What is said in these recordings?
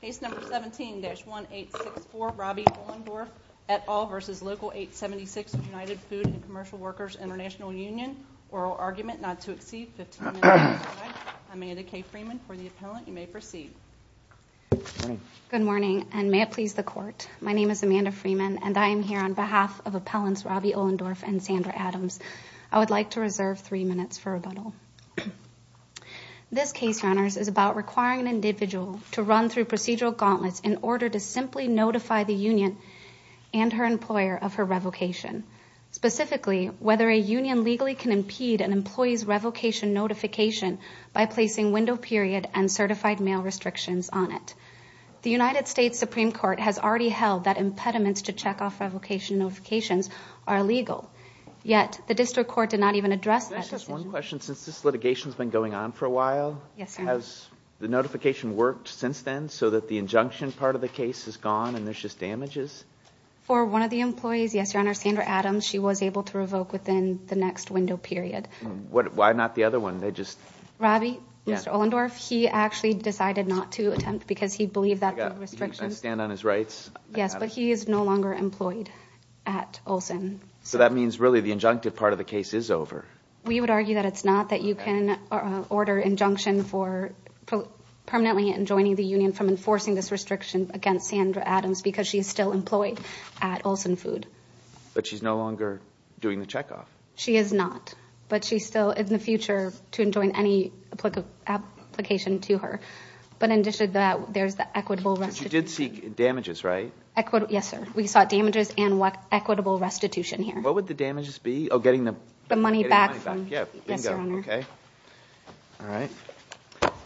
Case number 17-1864 Robbie Ohlendorf et al. v. Local 876 United Food and Commercial Workers International Union Oral argument not to exceed 15 minutes. Amanda K. Freeman for the appellant. You may proceed. Good morning and may it please the court. My name is Amanda Freeman and I am here on behalf of appellants Robbie Ohlendorf and Sandra Adams. I would like to reserve three minutes for rebuttal. This case is about requiring an individual to run through procedural gauntlets in order to simply notify the union and her employer of her revocation. Specifically, whether a union legally can impede an employee's revocation notification by placing window period and certified mail restrictions on it. The United States Supreme Court has already held that impediments to check off revocation notifications are illegal. Yet, the district court did not even address that decision. Can I ask just one question? Since this litigation has been going on for a while, has the notification worked since then so that the injunction part of the case is gone and there's just damages? For one of the employees, yes your honor, Sandra Adams, she was able to revoke within the next window period. Why not the other one? They just... Mr. Robbie, Mr. Ohlendorf, he actually decided not to attempt because he believed that the restrictions... Can I stand on his rights? Yes, but he is no longer employed at Olsen. So that means really the injunctive part of the case is over. We would argue that it's not, that you can order injunction for permanently enjoining the union from enforcing this restriction against Sandra Adams because she's still employed at Olsen Food. But she's no longer doing the check off. She is not, but she's still in the future to enjoin any application to her. But in addition to that, there's the equitable restitution. She did seek damages, right? Yes, sir. We sought damages and equitable restitution here. What would the damages be? Oh, getting the money back from... Yes, your honor. Okay. All right. I thought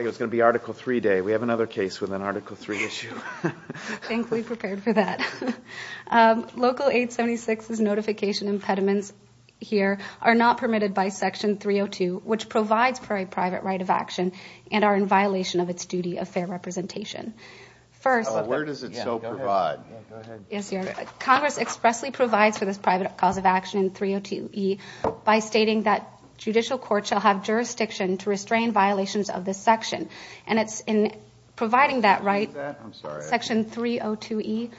it was going to be Article 3 day. We have another case with an Article 3 issue. Thankfully prepared for that. Local 876's notification impediments here are not permitted by Section 302, which provides for a private right of action and are in violation of its duty of fair representation. First... Where does it so provide? Yes, your honor. Congress expressly provides for this private cause of action in 302E by stating that judicial court shall have jurisdiction to restrain violations of this section. And it's in providing that right. I'm sorry. Section 302E.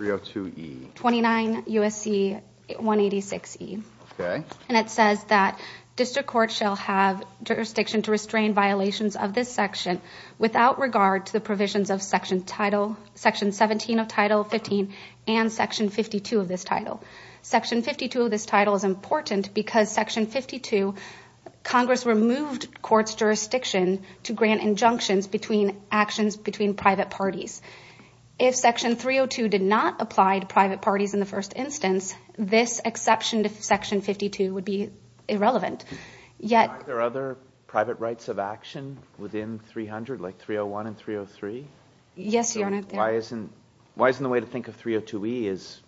302E. 29 U.S.C. 186E. Okay. And it says that district court shall have jurisdiction to restrain violations of this section without regard to the provisions of Section 17 of Title 15 and Section 52 of this title. Section 52 of this title is important because Section 52, Congress removed court's jurisdiction to grant injunctions between actions between private parties. If Section 302 did not apply to private parties in the first instance, this exception to Section 52 would be irrelevant. Yet... Are there other private rights of action within 300, like 301 and 303? Yes, your honor. Why isn't the way to think of 302E is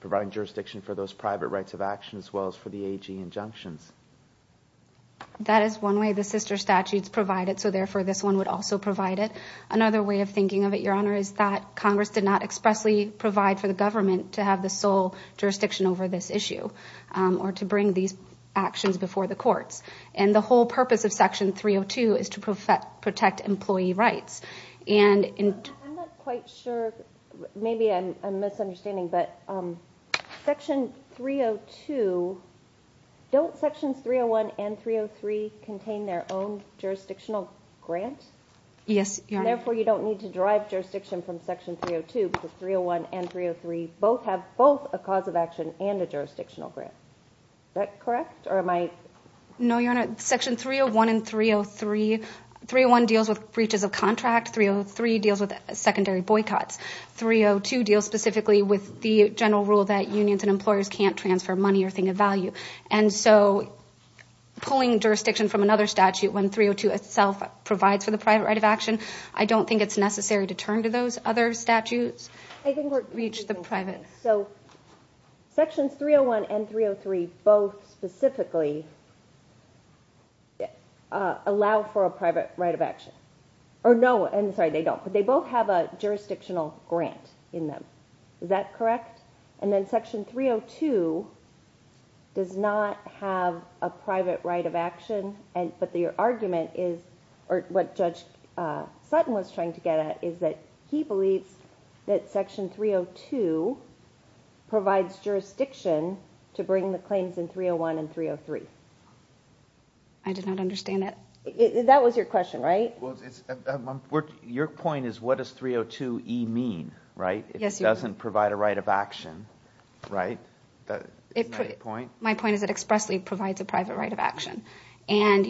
providing jurisdiction for those private rights of action as well as for the AG injunctions? That is one way the sister statutes provide it, so therefore this one would also provide it. Another way of thinking of it, your honor, is that Congress did not expressly provide for the government to have the sole jurisdiction over this issue or to bring these actions before the courts. And the whole purpose of Section 302 is to protect employee rights. I'm not quite sure, maybe I'm misunderstanding, but Section 302, don't Sections 301 and 303 contain their own jurisdictional grant? Yes, your honor. And therefore you don't need to derive jurisdiction from Section 302 because 301 and 303 both have both a cause of action and a jurisdictional grant. Is that correct or am I... No, your honor. Section 301 and 303... 301 deals with breaches of contract, 303 deals with secondary boycotts. 302 deals specifically with the general rule that unions and employers can't transfer money or thing of value. And so pulling jurisdiction from another statute when 302 itself provides for the private right of action, I don't think it's necessary to turn to those other statutes. I think we're... So Sections 301 and 303 both specifically allow for a private right of action. Or no, I'm sorry, they don't, but they both have a jurisdictional grant in them. Is that correct? And then Section 302 does not have a private right of action, but your argument is, or what Judge Sutton was trying to get at, is that he believes that Section 302 provides jurisdiction to bring the claims in 301 and 303. I did not understand that. That was your question, right? Your point is, what does 302e mean, right? It doesn't provide a right of action, right? My point is it expressly provides a private right of action. And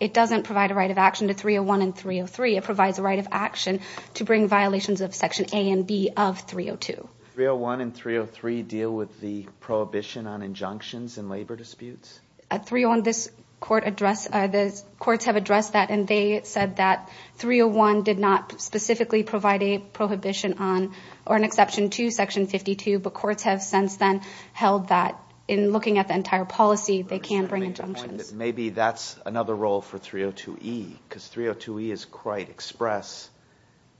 it doesn't provide a right of action to 301 and 303, it provides a right of action to bring violations of Section A and B of 302. 301 and 303 deal with the prohibition on injunctions in labor disputes? 301, the courts have addressed that, and they said that 301 did not specifically provide a prohibition on, or an exception to, Section 52, but courts have since then held that in looking at the entire policy, they can bring injunctions. Maybe that's another role for 302e, because 302e is quite express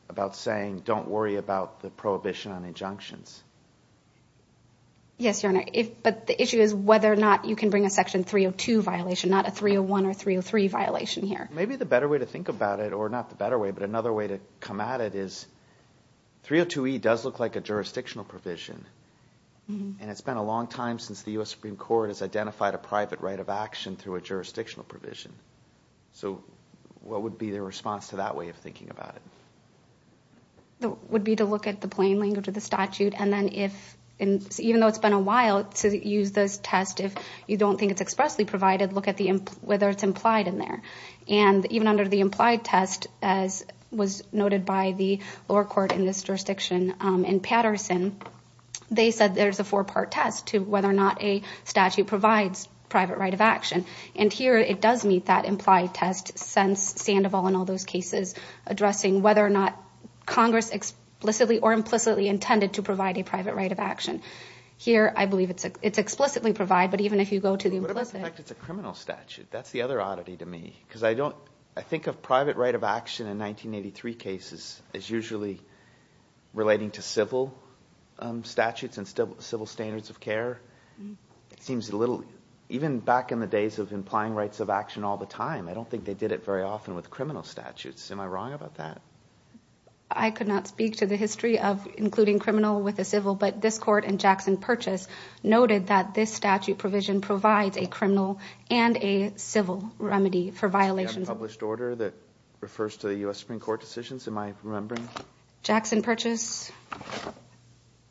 about saying, don't worry about the prohibition on injunctions. Yes, Your Honor, but the issue is whether or not you can bring a Section 302 violation, not a 301 or 303 violation here. Maybe the better way to think about it, or not the better way, but another way to come at it is, 302e does look like a jurisdictional provision. And it's been a long time since the U.S. Supreme Court has identified a private right of action through a jurisdictional provision. So, what would be the response to that way of thinking about it? It would be to look at the plain language of the statute, and then if, even though it's been a while, to use this test if you don't think it's expressly provided, look at whether it's implied in there. And even under the implied test, as was noted by the lower court in this jurisdiction in Patterson, they said there's a four-part test to whether or not a statute provides private right of action. And here, it does meet that implied test, since Sandoval and all those cases addressing whether or not Congress explicitly or implicitly intended to provide a private right of action. Here, I believe it's explicitly provided, but even if you go to the implicit... What if in fact it's a criminal statute? That's the other oddity to me. Because I think of private right of action in 1983 cases as usually relating to civil statutes and civil standards of care. It seems a little... Even back in the days of implying rights of action all the time, I don't think they did it very often with criminal statutes. Am I wrong about that? I could not speak to the history of including criminal with a civil, but this court in Jackson Purchase noted that this statute provision provides a criminal and a civil remedy for violations... Is there a published order that refers to the U.S. Supreme Court decisions, am I remembering? Jackson Purchase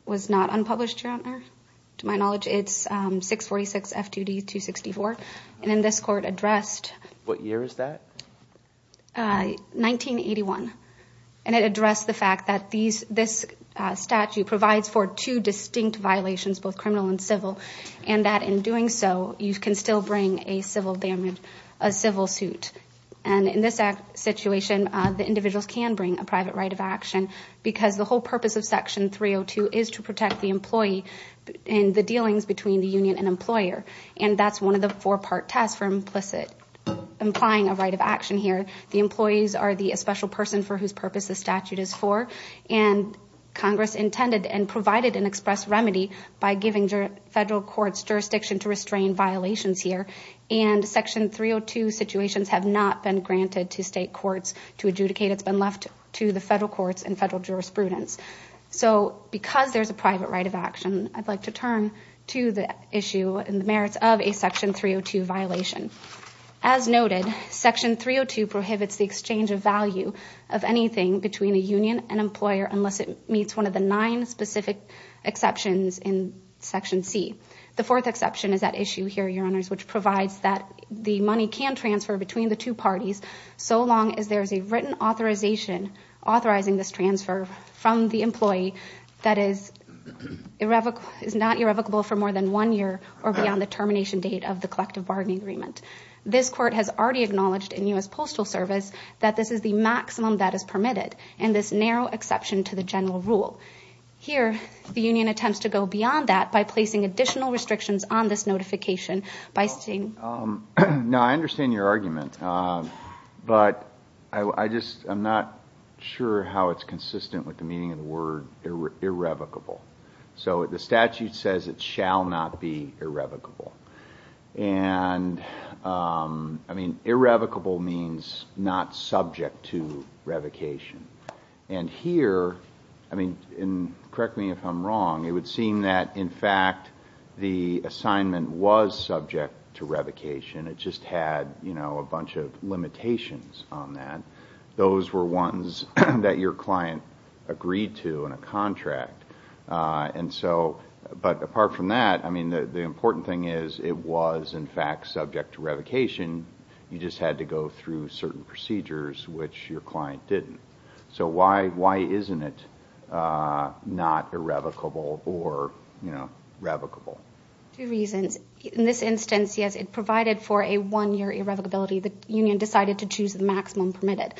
was not unpublished, Your Honor. To my knowledge, it's 646 F2D 264. And then this court addressed... What year is that? 1981. And it addressed the fact that this statute provides for two distinct violations, both criminal and civil, and that in doing so, you can still bring a civil suit. And in this situation, the individuals can bring a private right of action because the whole purpose of Section 302 is to protect the employee in the dealings between the union and employer. And that's one of the four-part tests for implicit... Implying a right of action here. The employees are the special person for whose purpose the statute is for. And Congress intended and provided an express remedy by giving federal courts jurisdiction to restrain violations here. And Section 302 situations have not been granted to state courts to adjudicate. It's been left to the federal courts and federal jurisprudence. So because there's a private right of action, I'd like to turn to the issue and the merits of a Section 302 violation. As noted, Section 302 prohibits the exchange of value of anything between a union and employer unless it meets one of the nine specific exceptions in Section C. The fourth exception is that issue here, Your Honors, which provides that the money can transfer between the two parties, so long as there is a written authorization authorizing this transfer from the employee that is irrevocable... is not irrevocable for more than one year or beyond the termination date of the collective bargaining agreement. This court has already acknowledged in U.S. Postal Service that this is the maximum that is permitted and this narrow exception to the general rule. Here, the union attempts to go beyond that by placing additional restrictions on this notification by stating... Now, I understand your argument, but I'm not sure how it's consistent with the meaning of the word irrevocable. So the statute says it shall not be irrevocable. And irrevocable means not subject to revocation. And here, correct me if I'm wrong, it would seem that, in fact, the assignment was subject to revocation. It just had a bunch of limitations on that. Those were ones that your client agreed to in a contract. But apart from that, the important thing is it was, in fact, subject to revocation. You just had to go through certain procedures, which your client didn't. So why isn't it not irrevocable or revocable? Two reasons. In this instance, yes, it provided for a one-year irrevocability. The union decided to choose the maximum permitted.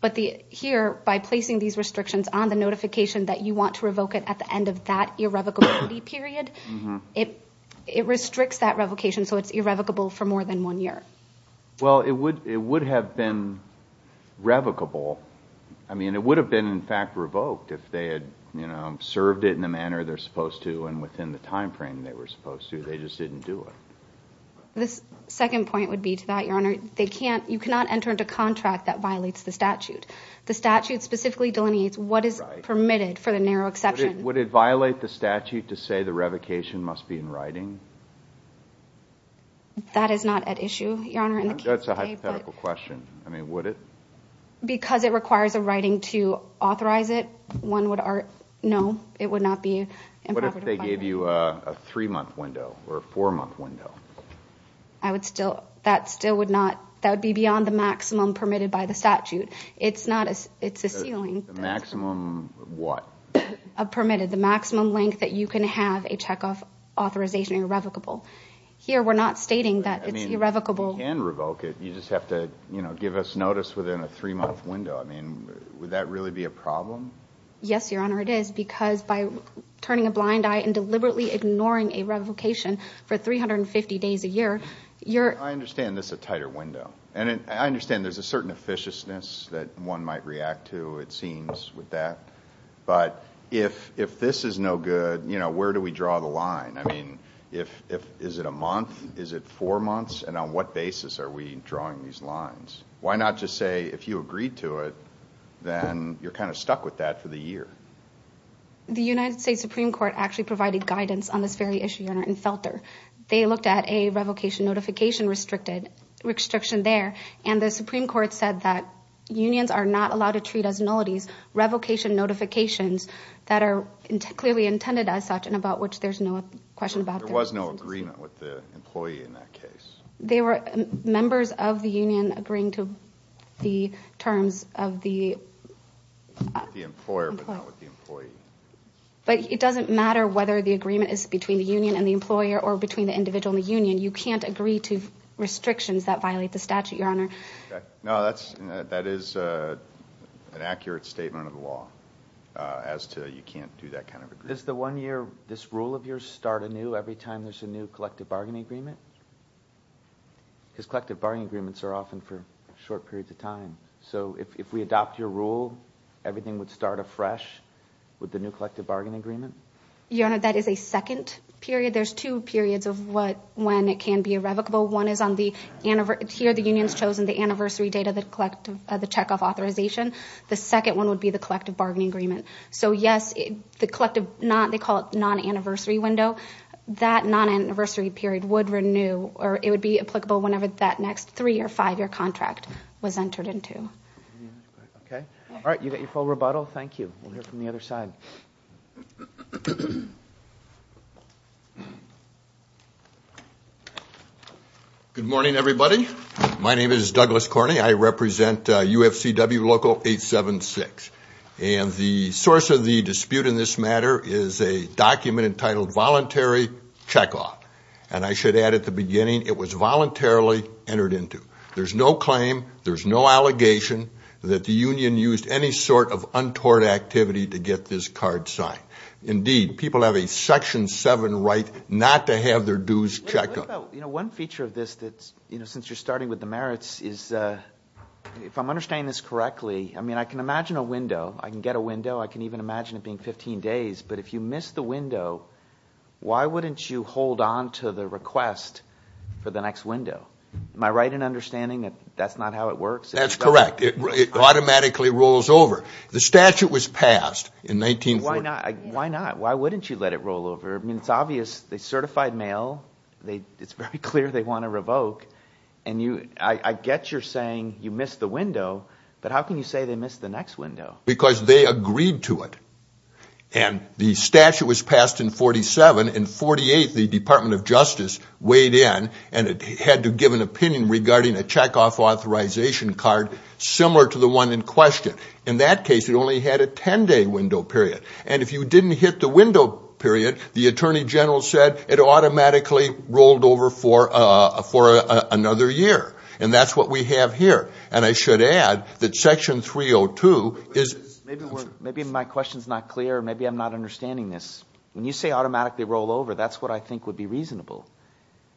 But here, by placing these restrictions on the notification that you want to revoke it at the end of that irrevocability period, it restricts that revocation so it's irrevocable for more than one year. Well, it would have been revocable. I mean, it would have been, in fact, revoked if they had served it in the manner they're supposed to and within the time frame they were supposed to. They just didn't do it. The second point would be to that, Your Honor. You cannot enter into contract that violates the statute. The statute specifically delineates what is permitted for the narrow exception. Would it violate the statute to say the revocation must be in writing? That is not at issue, Your Honor. That's a hypothetical question. I mean, would it? Because it requires a writing to authorize it, no, it would not be improper to violate it. What if they gave you a three-month window or a four-month window? That would be beyond the maximum permitted by the statute. It's a ceiling. The maximum what? Permitted, the maximum length that you can have a checkoff authorization irrevocable. Here we're not stating that it's irrevocable. I mean, you can revoke it. You just have to give us notice within a three-month window. I mean, would that really be a problem? Yes, Your Honor, it is because by turning a blind eye and deliberately ignoring a revocation for 350 days a year, you're – I understand this is a tighter window. And I understand there's a certain efficiousness that one might react to, it seems, with that. But if this is no good, where do we draw the line? I mean, is it a month? Is it four months? And on what basis are we drawing these lines? Why not just say if you agreed to it, then you're kind of stuck with that for the year? The United States Supreme Court actually provided guidance on this very issue, Your Honor, in Felter. They looked at a revocation notification restriction there, and the Supreme Court said that unions are not allowed to treat as nullities revocation notifications that are clearly intended as such and about which there's no question about. There was no agreement with the employee in that case. They were members of the union agreeing to the terms of the – The employer, but not with the employee. But it doesn't matter whether the agreement is between the union and the employer or between the individual and the union. You can't agree to restrictions that violate the statute, Your Honor. No, that is an accurate statement of the law as to you can't do that kind of agreement. Does the one year – this rule of yours start anew every time there's a new collective bargaining agreement? So if we adopt your rule, everything would start afresh with the new collective bargaining agreement? Your Honor, that is a second period. There's two periods of when it can be irrevocable. One is on the – here the union's chosen the anniversary date of the checkoff authorization. The second one would be the collective bargaining agreement. So, yes, the collective – they call it non-anniversary window. That non-anniversary period would renew or it would be applicable whenever that next three- year contract was entered into. Okay. All right. You got your full rebuttal? Thank you. We'll hear from the other side. Good morning, everybody. My name is Douglas Corny. I represent UFCW Local 876. And the source of the dispute in this matter is a document entitled Voluntary Checkoff. And I should add at the beginning it was voluntarily entered into. There's no claim, there's no allegation that the union used any sort of untoward activity to get this card signed. Indeed, people have a Section 7 right not to have their dues checked. One feature of this that's – since you're starting with the merits is if I'm understanding this correctly, I mean I can imagine a window. I can get a window. I can even imagine it being 15 days. But if you miss the window, why wouldn't you hold on to the request for the next window? Am I right in understanding that that's not how it works? That's correct. It automatically rolls over. The statute was passed in 1940. Why not? Why not? Why wouldn't you let it roll over? I mean it's obvious. They certified mail. It's very clear they want to revoke. And I get you're saying you missed the window, but how can you say they missed the next window? Because they agreed to it. And the statute was passed in 1947. In 1948, the Department of Justice weighed in, and it had to give an opinion regarding a checkoff authorization card similar to the one in question. In that case, it only had a 10-day window period. And if you didn't hit the window period, the Attorney General said it automatically rolled over for another year. And that's what we have here. And I should add that Section 302 is – Maybe my question is not clear. Maybe I'm not understanding this. When you say automatically roll over, that's what I think would be reasonable.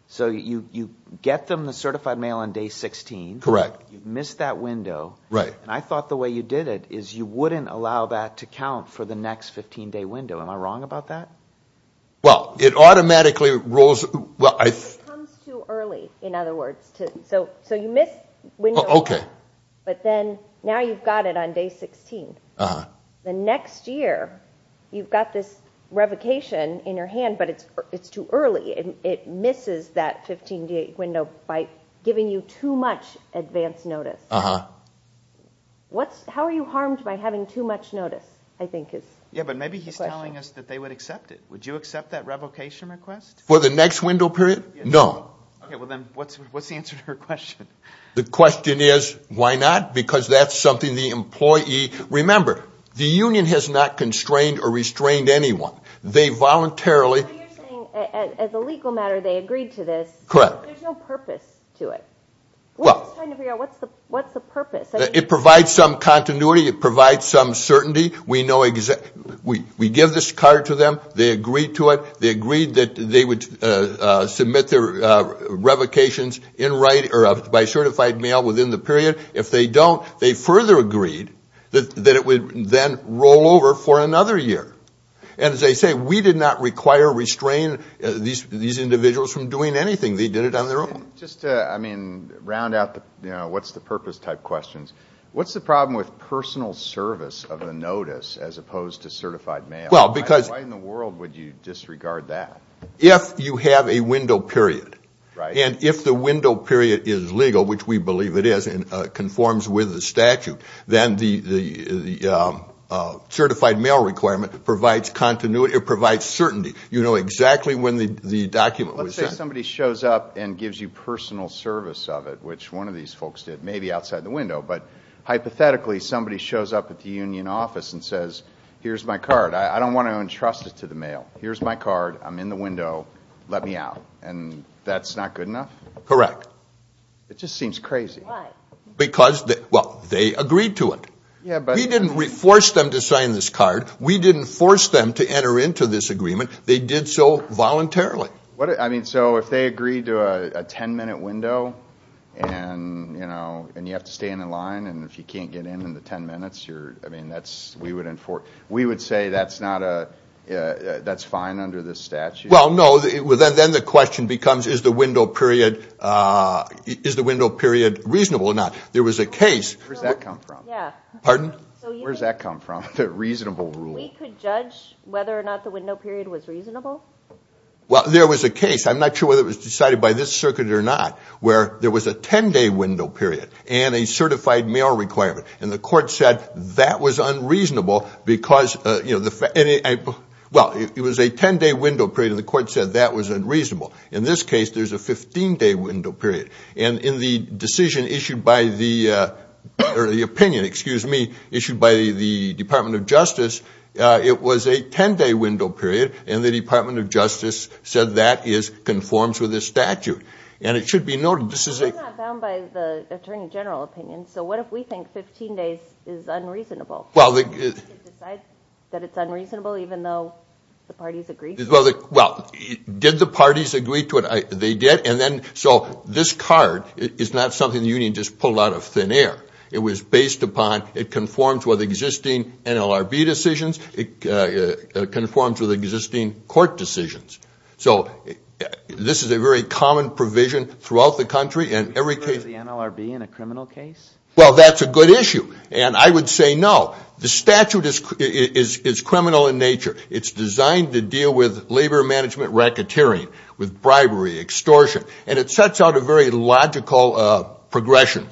So you get them the certified mail on day 16. Correct. You missed that window. Right. And I thought the way you did it is you wouldn't allow that to count for the next 15-day window. Am I wrong about that? Well, it automatically rolls – It comes too early, in other words. So you missed window one. Okay. But then now you've got it on day 16. Uh-huh. The next year, you've got this revocation in your hand, but it's too early. It misses that 15-day window by giving you too much advance notice. Uh-huh. How are you harmed by having too much notice, I think is the question. Yeah, but maybe he's telling us that they would accept it. Would you accept that revocation request? For the next window period? No. Okay, well, then what's the answer to her question? The question is, why not? Because that's something the employee – remember, the union has not constrained or restrained anyone. They voluntarily – So you're saying, as a legal matter, they agreed to this. Correct. But there's no purpose to it. Well – What's the purpose? It provides some continuity. It provides some certainty. We give this card to them. They agree to it. If they don't, they agreed that they would submit their revocations by certified mail within the period. If they don't, they further agreed that it would then roll over for another year. And as I say, we did not require or restrain these individuals from doing anything. They did it on their own. Just to, I mean, round out the, you know, what's the purpose type questions, what's the problem with personal service of a notice as opposed to certified mail? Why in the world would you disregard that? If you have a window period. Right. And if the window period is legal, which we believe it is, and conforms with the statute, then the certified mail requirement provides continuity. It provides certainty. You know exactly when the document was sent. Let's say somebody shows up and gives you personal service of it, which one of these folks did, maybe outside the window. But hypothetically, somebody shows up at the union office and says, here's my card. I don't want to entrust it to the mail. Here's my card. I'm in the window. Let me out. And that's not good enough? Correct. It just seems crazy. Why? Because, well, they agreed to it. We didn't force them to sign this card. We didn't force them to enter into this agreement. They did so voluntarily. So if they agreed to a ten-minute window and you have to stay in a line, and if you can't get in in the ten minutes, we would say that's fine under this statute? Well, no. Then the question becomes, is the window period reasonable or not? There was a case. Where does that come from? Yeah. Pardon? Where does that come from, the reasonable rule? We could judge whether or not the window period was reasonable. Well, there was a case. I'm not sure whether it was decided by this circuit or not, where there was a ten-day window period and a certified mail requirement, and the court said that was unreasonable because, well, it was a ten-day window period, and the court said that was unreasonable. In this case, there's a 15-day window period. And in the decision issued by the opinion issued by the Department of Justice, it was a ten-day window period, and the Department of Justice said that conforms with the statute, and it should be noted. Well, we're not bound by the Attorney General opinion, so what if we think 15 days is unreasonable? Well, did the parties agree to it? They did. And then so this card is not something the union just pulled out of thin air. It was based upon it conforms with existing NLRB decisions. It conforms with existing court decisions. So this is a very common provision throughout the country, and every case – Is the NLRB in a criminal case? Well, that's a good issue, and I would say no. The statute is criminal in nature. It's designed to deal with labor management racketeering, with bribery, extortion, and it sets out a very logical progression.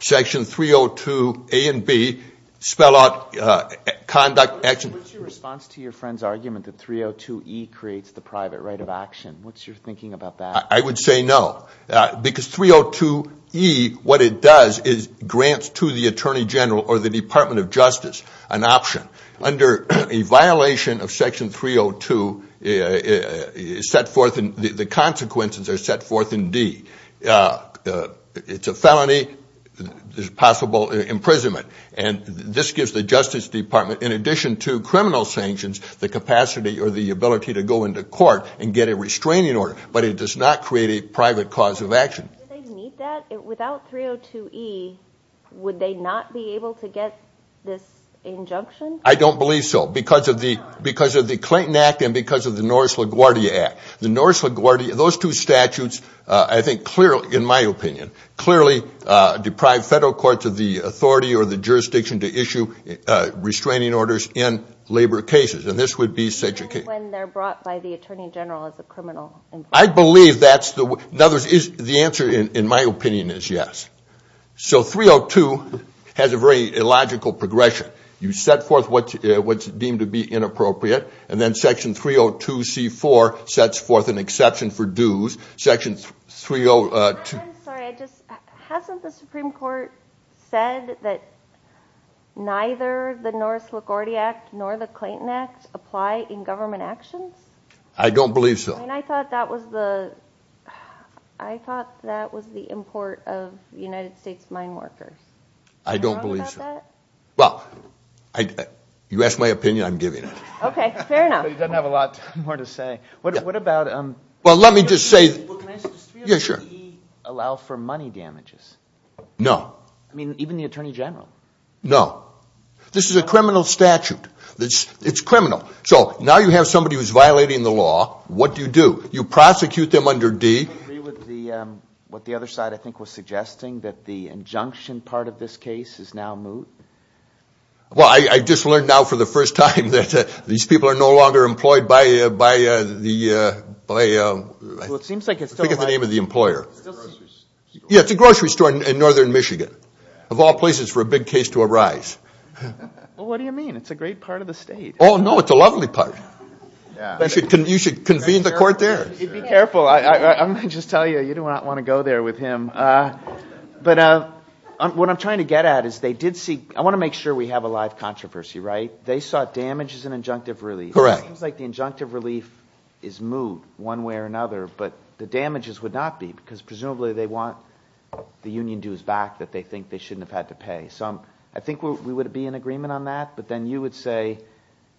Section 302A and B spell out conduct – What's your response to your friend's argument that 302E creates the private right of action? What's your thinking about that? I would say no, because 302E, what it does is grants to the Attorney General or the Department of Justice an option. Under a violation of Section 302, the consequences are set forth in D. It's a felony. There's possible imprisonment. And this gives the Justice Department, in addition to criminal sanctions, the capacity or the ability to go into court and get a restraining order, but it does not create a private cause of action. Do they need that? Without 302E, would they not be able to get this injunction? I don't believe so, because of the Clayton Act and because of the Norris-LaGuardia Act. The Norris-LaGuardia – those two statutes, I think, clearly, in my opinion, clearly deprive federal courts of the authority or the jurisdiction to issue restraining orders in labor cases, and this would be such a case. Only when they're brought by the Attorney General as a criminal. I believe that's the – in other words, the answer, in my opinion, is yes. So 302 has a very illogical progression. You set forth what's deemed to be inappropriate, and then Section 302C4 sets forth an exception for dues. Section 302 – I'm sorry. Hasn't the Supreme Court said that neither the Norris-LaGuardia Act nor the Clayton Act apply in government actions? I don't believe so. I mean, I thought that was the – I thought that was the import of the United States mine workers. I don't believe so. Are you wrong about that? Well, you ask my opinion, I'm giving it. Okay, fair enough. Well, he doesn't have a lot more to say. What about – Well, let me just say – Well, can I just – Yeah, sure. Does 302E allow for money damages? No. I mean, even the Attorney General? No. This is a criminal statute. It's criminal. So now you have somebody who's violating the law. What do you do? You prosecute them under D. Do you agree with what the other side, I think, was suggesting, that the injunction part of this case is now moot? Well, I just learned now for the first time that these people are no longer employed by the – Well, it seems like it's still – I forget the name of the employer. It's a grocery store. Yeah, it's a grocery store in northern Michigan. Of all places for a big case to arise. Well, what do you mean? It's a great part of the state. Oh, no, it's a lovely part. You should convene the court there. Be careful. I'm going to just tell you, you do not want to go there with him. But what I'm trying to get at is they did see – I want to make sure we have a live controversy, right? They saw damage as an injunctive relief. Correct. It seems like the injunctive relief is moot one way or another, but the damages would not be because presumably they want the union dues back that they think they shouldn't have had to pay. So I think we would be in agreement on that, but then you would say –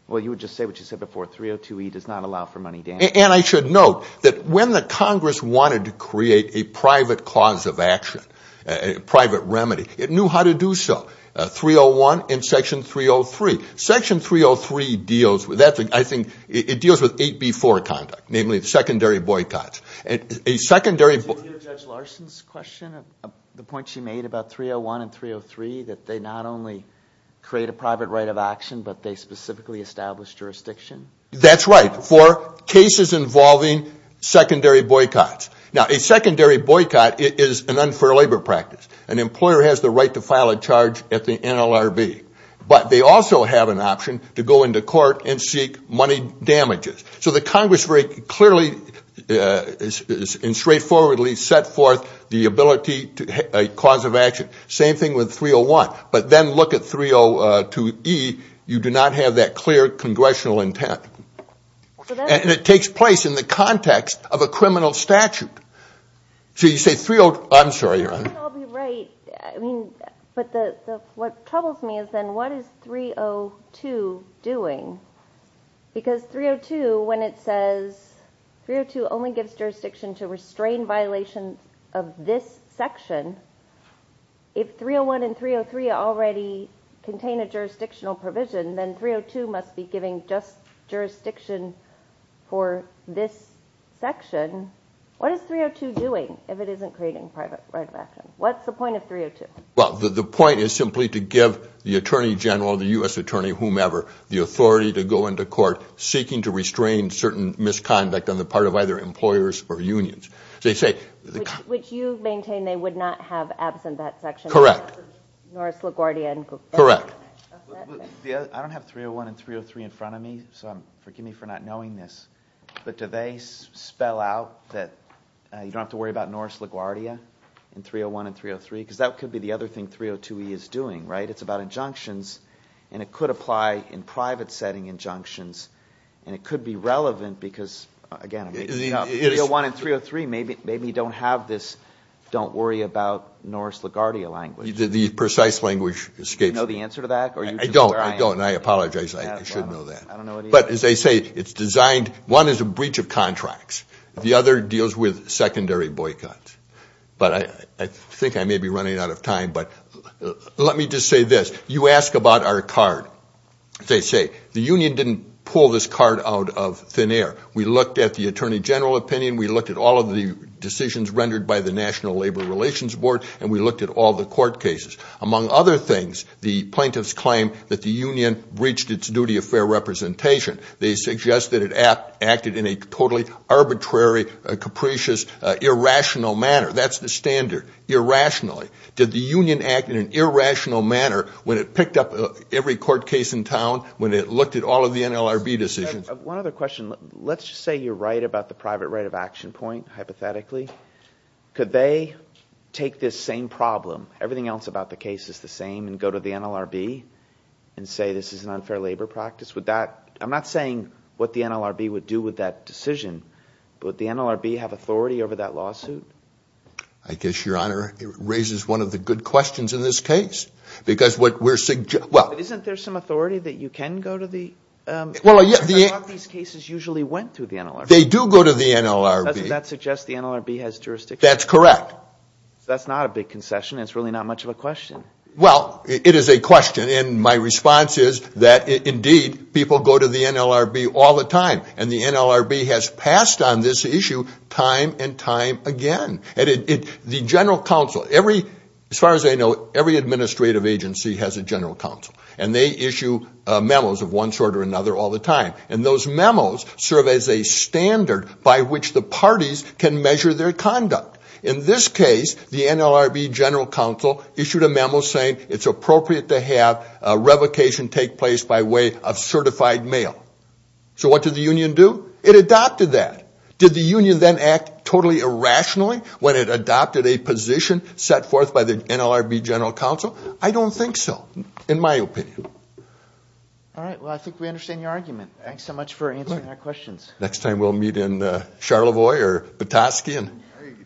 well, you would just say what you said before. 302E does not allow for money damages. And I should note that when the Congress wanted to create a private cause of action, a private remedy, it knew how to do so. 301 and Section 303. Section 303 deals – I think it deals with 8B4 conduct, namely secondary boycotts. Did you hear Judge Larson's question, the point she made about 301 and 303, that they not only create a private right of action, but they specifically establish jurisdiction? That's right, for cases involving secondary boycotts. Now, a secondary boycott is an unfair labor practice. An employer has the right to file a charge at the NLRB. But they also have an option to go into court and seek money damages. So the Congress very clearly and straightforwardly set forth the ability to – a cause of action. Same thing with 301. But then look at 302E. You do not have that clear congressional intent. And it takes place in the context of a criminal statute. So you say – I'm sorry, Your Honor. But what troubles me is then what is 302 doing? Because 302, when it says – 302 only gives jurisdiction to restrain violations of this section. If 301 and 303 already contain a jurisdictional provision, then 302 must be giving just jurisdiction for this section. What is 302 doing if it isn't creating a private right of action? What's the point of 302? Well, the point is simply to give the attorney general, the U.S. attorney, whomever, the authority to go into court seeking to restrain certain misconduct on the part of either employers or unions. They say – Which you maintain they would not have absent that section. Correct. Norris LaGuardia and – Correct. I don't have 301 and 303 in front of me, so forgive me for not knowing this. But do they spell out that you don't have to worry about Norris LaGuardia in 301 and 303? Because that could be the other thing 302e is doing, right? It's about injunctions, and it could apply in private setting injunctions. And it could be relevant because, again, 301 and 303 maybe don't have this don't worry about Norris LaGuardia language. The precise language escapes me. Do you know the answer to that? I don't. I don't. And I apologize. I should know that. I don't know what it is. But as they say, it's designed – one is a breach of contracts. The other deals with secondary boycotts. But I think I may be running out of time, but let me just say this. You ask about our card. As they say, the union didn't pull this card out of thin air. We looked at the attorney general opinion. We looked at all of the decisions rendered by the National Labor Relations Board, and we looked at all the court cases. Among other things, the plaintiffs claim that the union breached its duty of fair representation. They suggest that it acted in a totally arbitrary, capricious, irrational manner. That's the standard, irrationally. Did the union act in an irrational manner when it picked up every court case in town, when it looked at all of the NLRB decisions? One other question. Let's just say you're right about the private right of action point, hypothetically. Could they take this same problem, everything else about the case is the same, and go to the NLRB and say this is an unfair labor practice? Would that – I'm not saying what the NLRB would do with that decision, but would the NLRB have authority over that lawsuit? I guess, Your Honor, it raises one of the good questions in this case, because what we're – well – Isn't there some authority that you can go to the – because a lot of these cases usually went through the NLRB. They do go to the NLRB. Doesn't that suggest the NLRB has jurisdiction? That's correct. That's not a big concession. It's really not much of a question. Well, it is a question, and my response is that, indeed, people go to the NLRB all the time, and the NLRB has passed on this issue time and time again. The General Counsel – as far as I know, every administrative agency has a General Counsel, and they issue memos of one sort or another all the time, and those memos serve as a standard by which the parties can measure their conduct. In this case, the NLRB General Counsel issued a memo saying it's appropriate to have a revocation take place by way of certified mail. So what did the union do? It adopted that. Did the union then act totally irrationally when it adopted a position set forth by the NLRB General Counsel? I don't think so, in my opinion. All right. Well, I think we understand your argument. Thanks so much for answering our questions. Next time we'll meet in Charlevoix or Petoskey.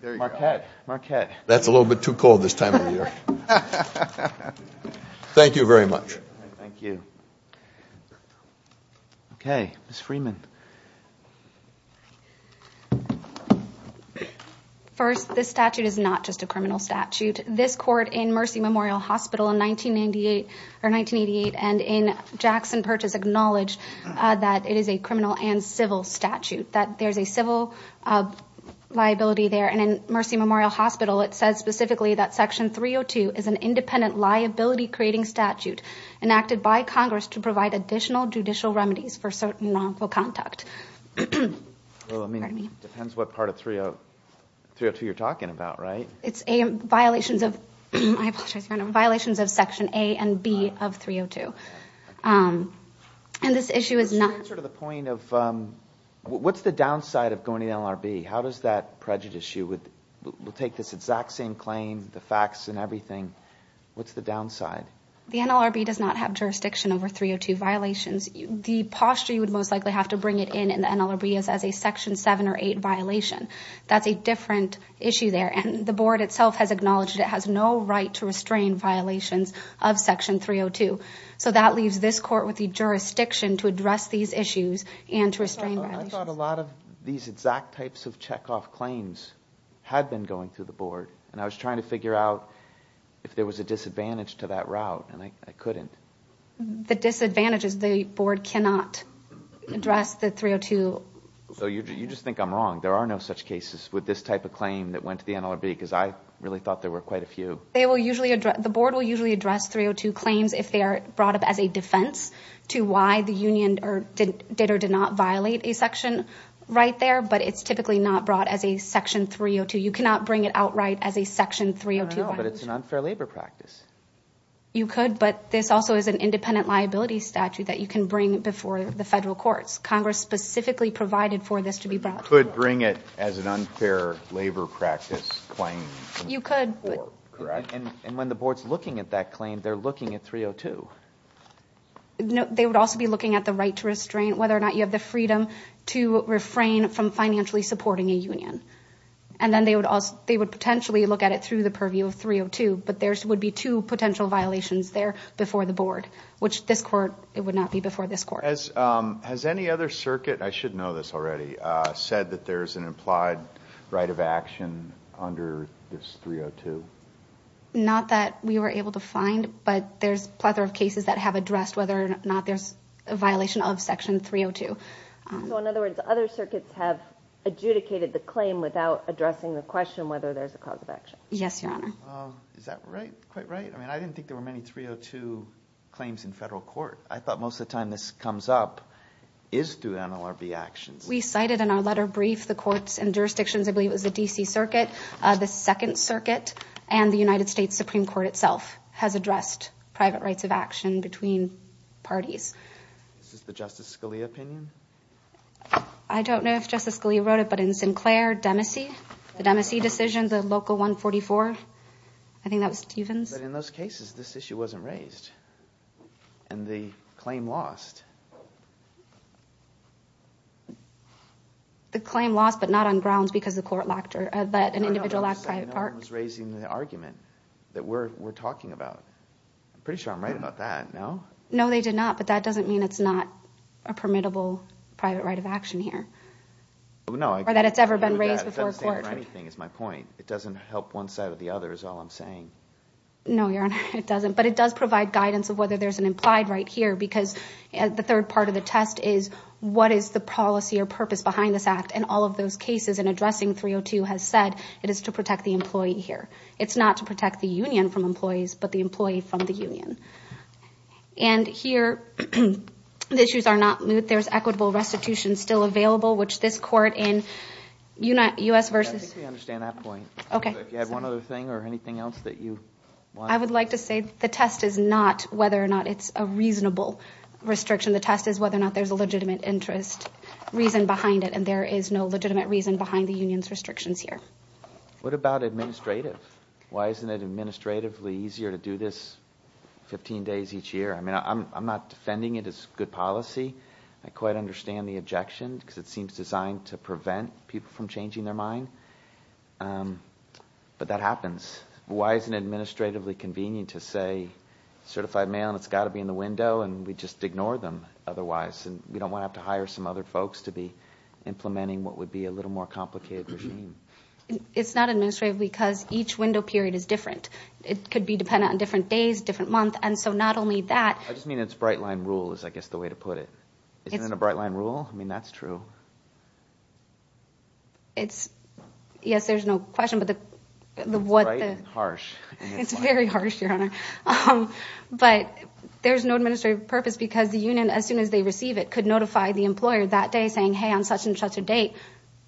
Marquette. Marquette. That's a little bit too cold this time of year. Thank you very much. Thank you. Okay. Ms. Freeman. First, this statute is not just a criminal statute. This court in Mercy Memorial Hospital in 1988 and in Jackson Purchase acknowledged that it is a criminal and civil statute, that there's a civil liability there. And in Mercy Memorial Hospital, it says specifically that Section 302 is an independent liability-creating statute enacted by Congress to provide additional judicial remedies for certain wrongful conduct. Well, I mean, it depends what part of 302 you're talking about, right? It's violations of Section A and B of 302. And this issue is not- To answer to the point of what's the downside of going to the NLRB? How does that prejudice you? We'll take this exact same claim, the facts and everything. What's the downside? The NLRB does not have jurisdiction over 302 violations. The posture you would most likely have to bring it in in the NLRB is as a Section 7 or 8 violation. That's a different issue there. And the board itself has acknowledged it has no right to restrain violations of Section 302. So that leaves this court with the jurisdiction to address these issues and to restrain violations. I thought a lot of these exact types of checkoff claims had been going through the board, and I was trying to figure out if there was a disadvantage to that route, and I couldn't. The disadvantage is the board cannot address the 302. So you just think I'm wrong. There are no such cases with this type of claim that went to the NLRB because I really thought there were quite a few. The board will usually address 302 claims if they are brought up as a defense to why the union did or did not violate a section right there, but it's typically not brought as a Section 302. You cannot bring it outright as a Section 302 violation. I don't know, but it's an unfair labor practice. You could, but this also is an independent liability statute that you can bring before the federal courts. Congress specifically provided for this to be brought to the board. You could bring it as an unfair labor practice claim. You could. Correct? And when the board's looking at that claim, they're looking at 302. They would also be looking at the right to restrain, whether or not you have the freedom to refrain from financially supporting a union. And then they would potentially look at it through the purview of 302, but there would be two potential violations there before the board, which this court, it would not be before this court. Has any other circuit, I should know this already, said that there's an implied right of action under this 302? Not that we were able to find, but there's a plethora of cases that have addressed whether or not there's a violation of Section 302. So, in other words, other circuits have adjudicated the claim without addressing the question whether there's a cause of action. Yes, Your Honor. Is that quite right? I mean, I didn't think there were many 302 claims in federal court. I thought most of the time this comes up is through NLRB actions. We cited in our letter brief the courts and jurisdictions, I believe it was the D.C. Circuit, the Second Circuit, and the United States Supreme Court itself has addressed private rights of action between parties. Is this the Justice Scalia opinion? I don't know if Justice Scalia wrote it, but in Sinclair, Demacy, the Demacy decision, the local 144, I think that was Stevens. But in those cases, this issue wasn't raised. And the claim lost. The claim lost, but not on grounds because an individual lacked a private part. No one was raising the argument that we're talking about. I'm pretty sure I'm right about that, no? No, they did not, but that doesn't mean it's not a permittable private right of action here. Or that it's ever been raised before a court. It doesn't stand for anything is my point. It doesn't help one side or the other is all I'm saying. No, Your Honor, it doesn't. It does provide guidance of whether there's an implied right here because the third part of the test is what is the policy or purpose behind this act and all of those cases in addressing 302 has said it is to protect the employee here. It's not to protect the union from employees, but the employee from the union. And here, the issues are not moot. There's equitable restitution still available, which this court in U.S. v. I think we understand that point. If you had one other thing or anything else that you want to say. The test is not whether or not it's a reasonable restriction. The test is whether or not there's a legitimate interest reason behind it, and there is no legitimate reason behind the union's restrictions here. What about administrative? Why isn't it administratively easier to do this 15 days each year? I mean, I'm not defending it as good policy. I quite understand the objection because it seems designed to prevent people from changing their mind. But that happens. Why isn't it administratively convenient to say, certified male, it's got to be in the window, and we just ignore them otherwise? We don't want to have to hire some other folks to be implementing what would be a little more complicated regime. It's not administrative because each window period is different. It could be dependent on different days, different months, and so not only that. I just mean it's bright-line rule is, I guess, the way to put it. Isn't it a bright-line rule? I mean, that's true. Yes, there's no question. It's bright and harsh. It's very harsh, Your Honor. But there's no administrative purpose because the union, as soon as they receive it, could notify the employer that day saying, hey, on such and such a date,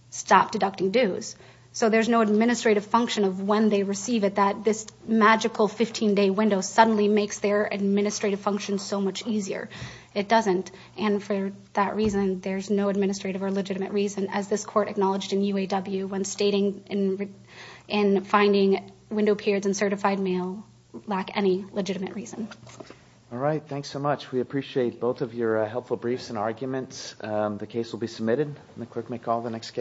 stop deducting dues. So there's no administrative function of when they receive it that this magical 15-day window suddenly makes their administrative function so much easier. It doesn't. And for that reason, there's no administrative or legitimate reason, as this court acknowledged in UAW when stating in finding window periods in certified mail, lack any legitimate reason. All right. Thanks so much. We appreciate both of your helpful briefs and arguments. The case will be submitted, and the clerk may call the next case.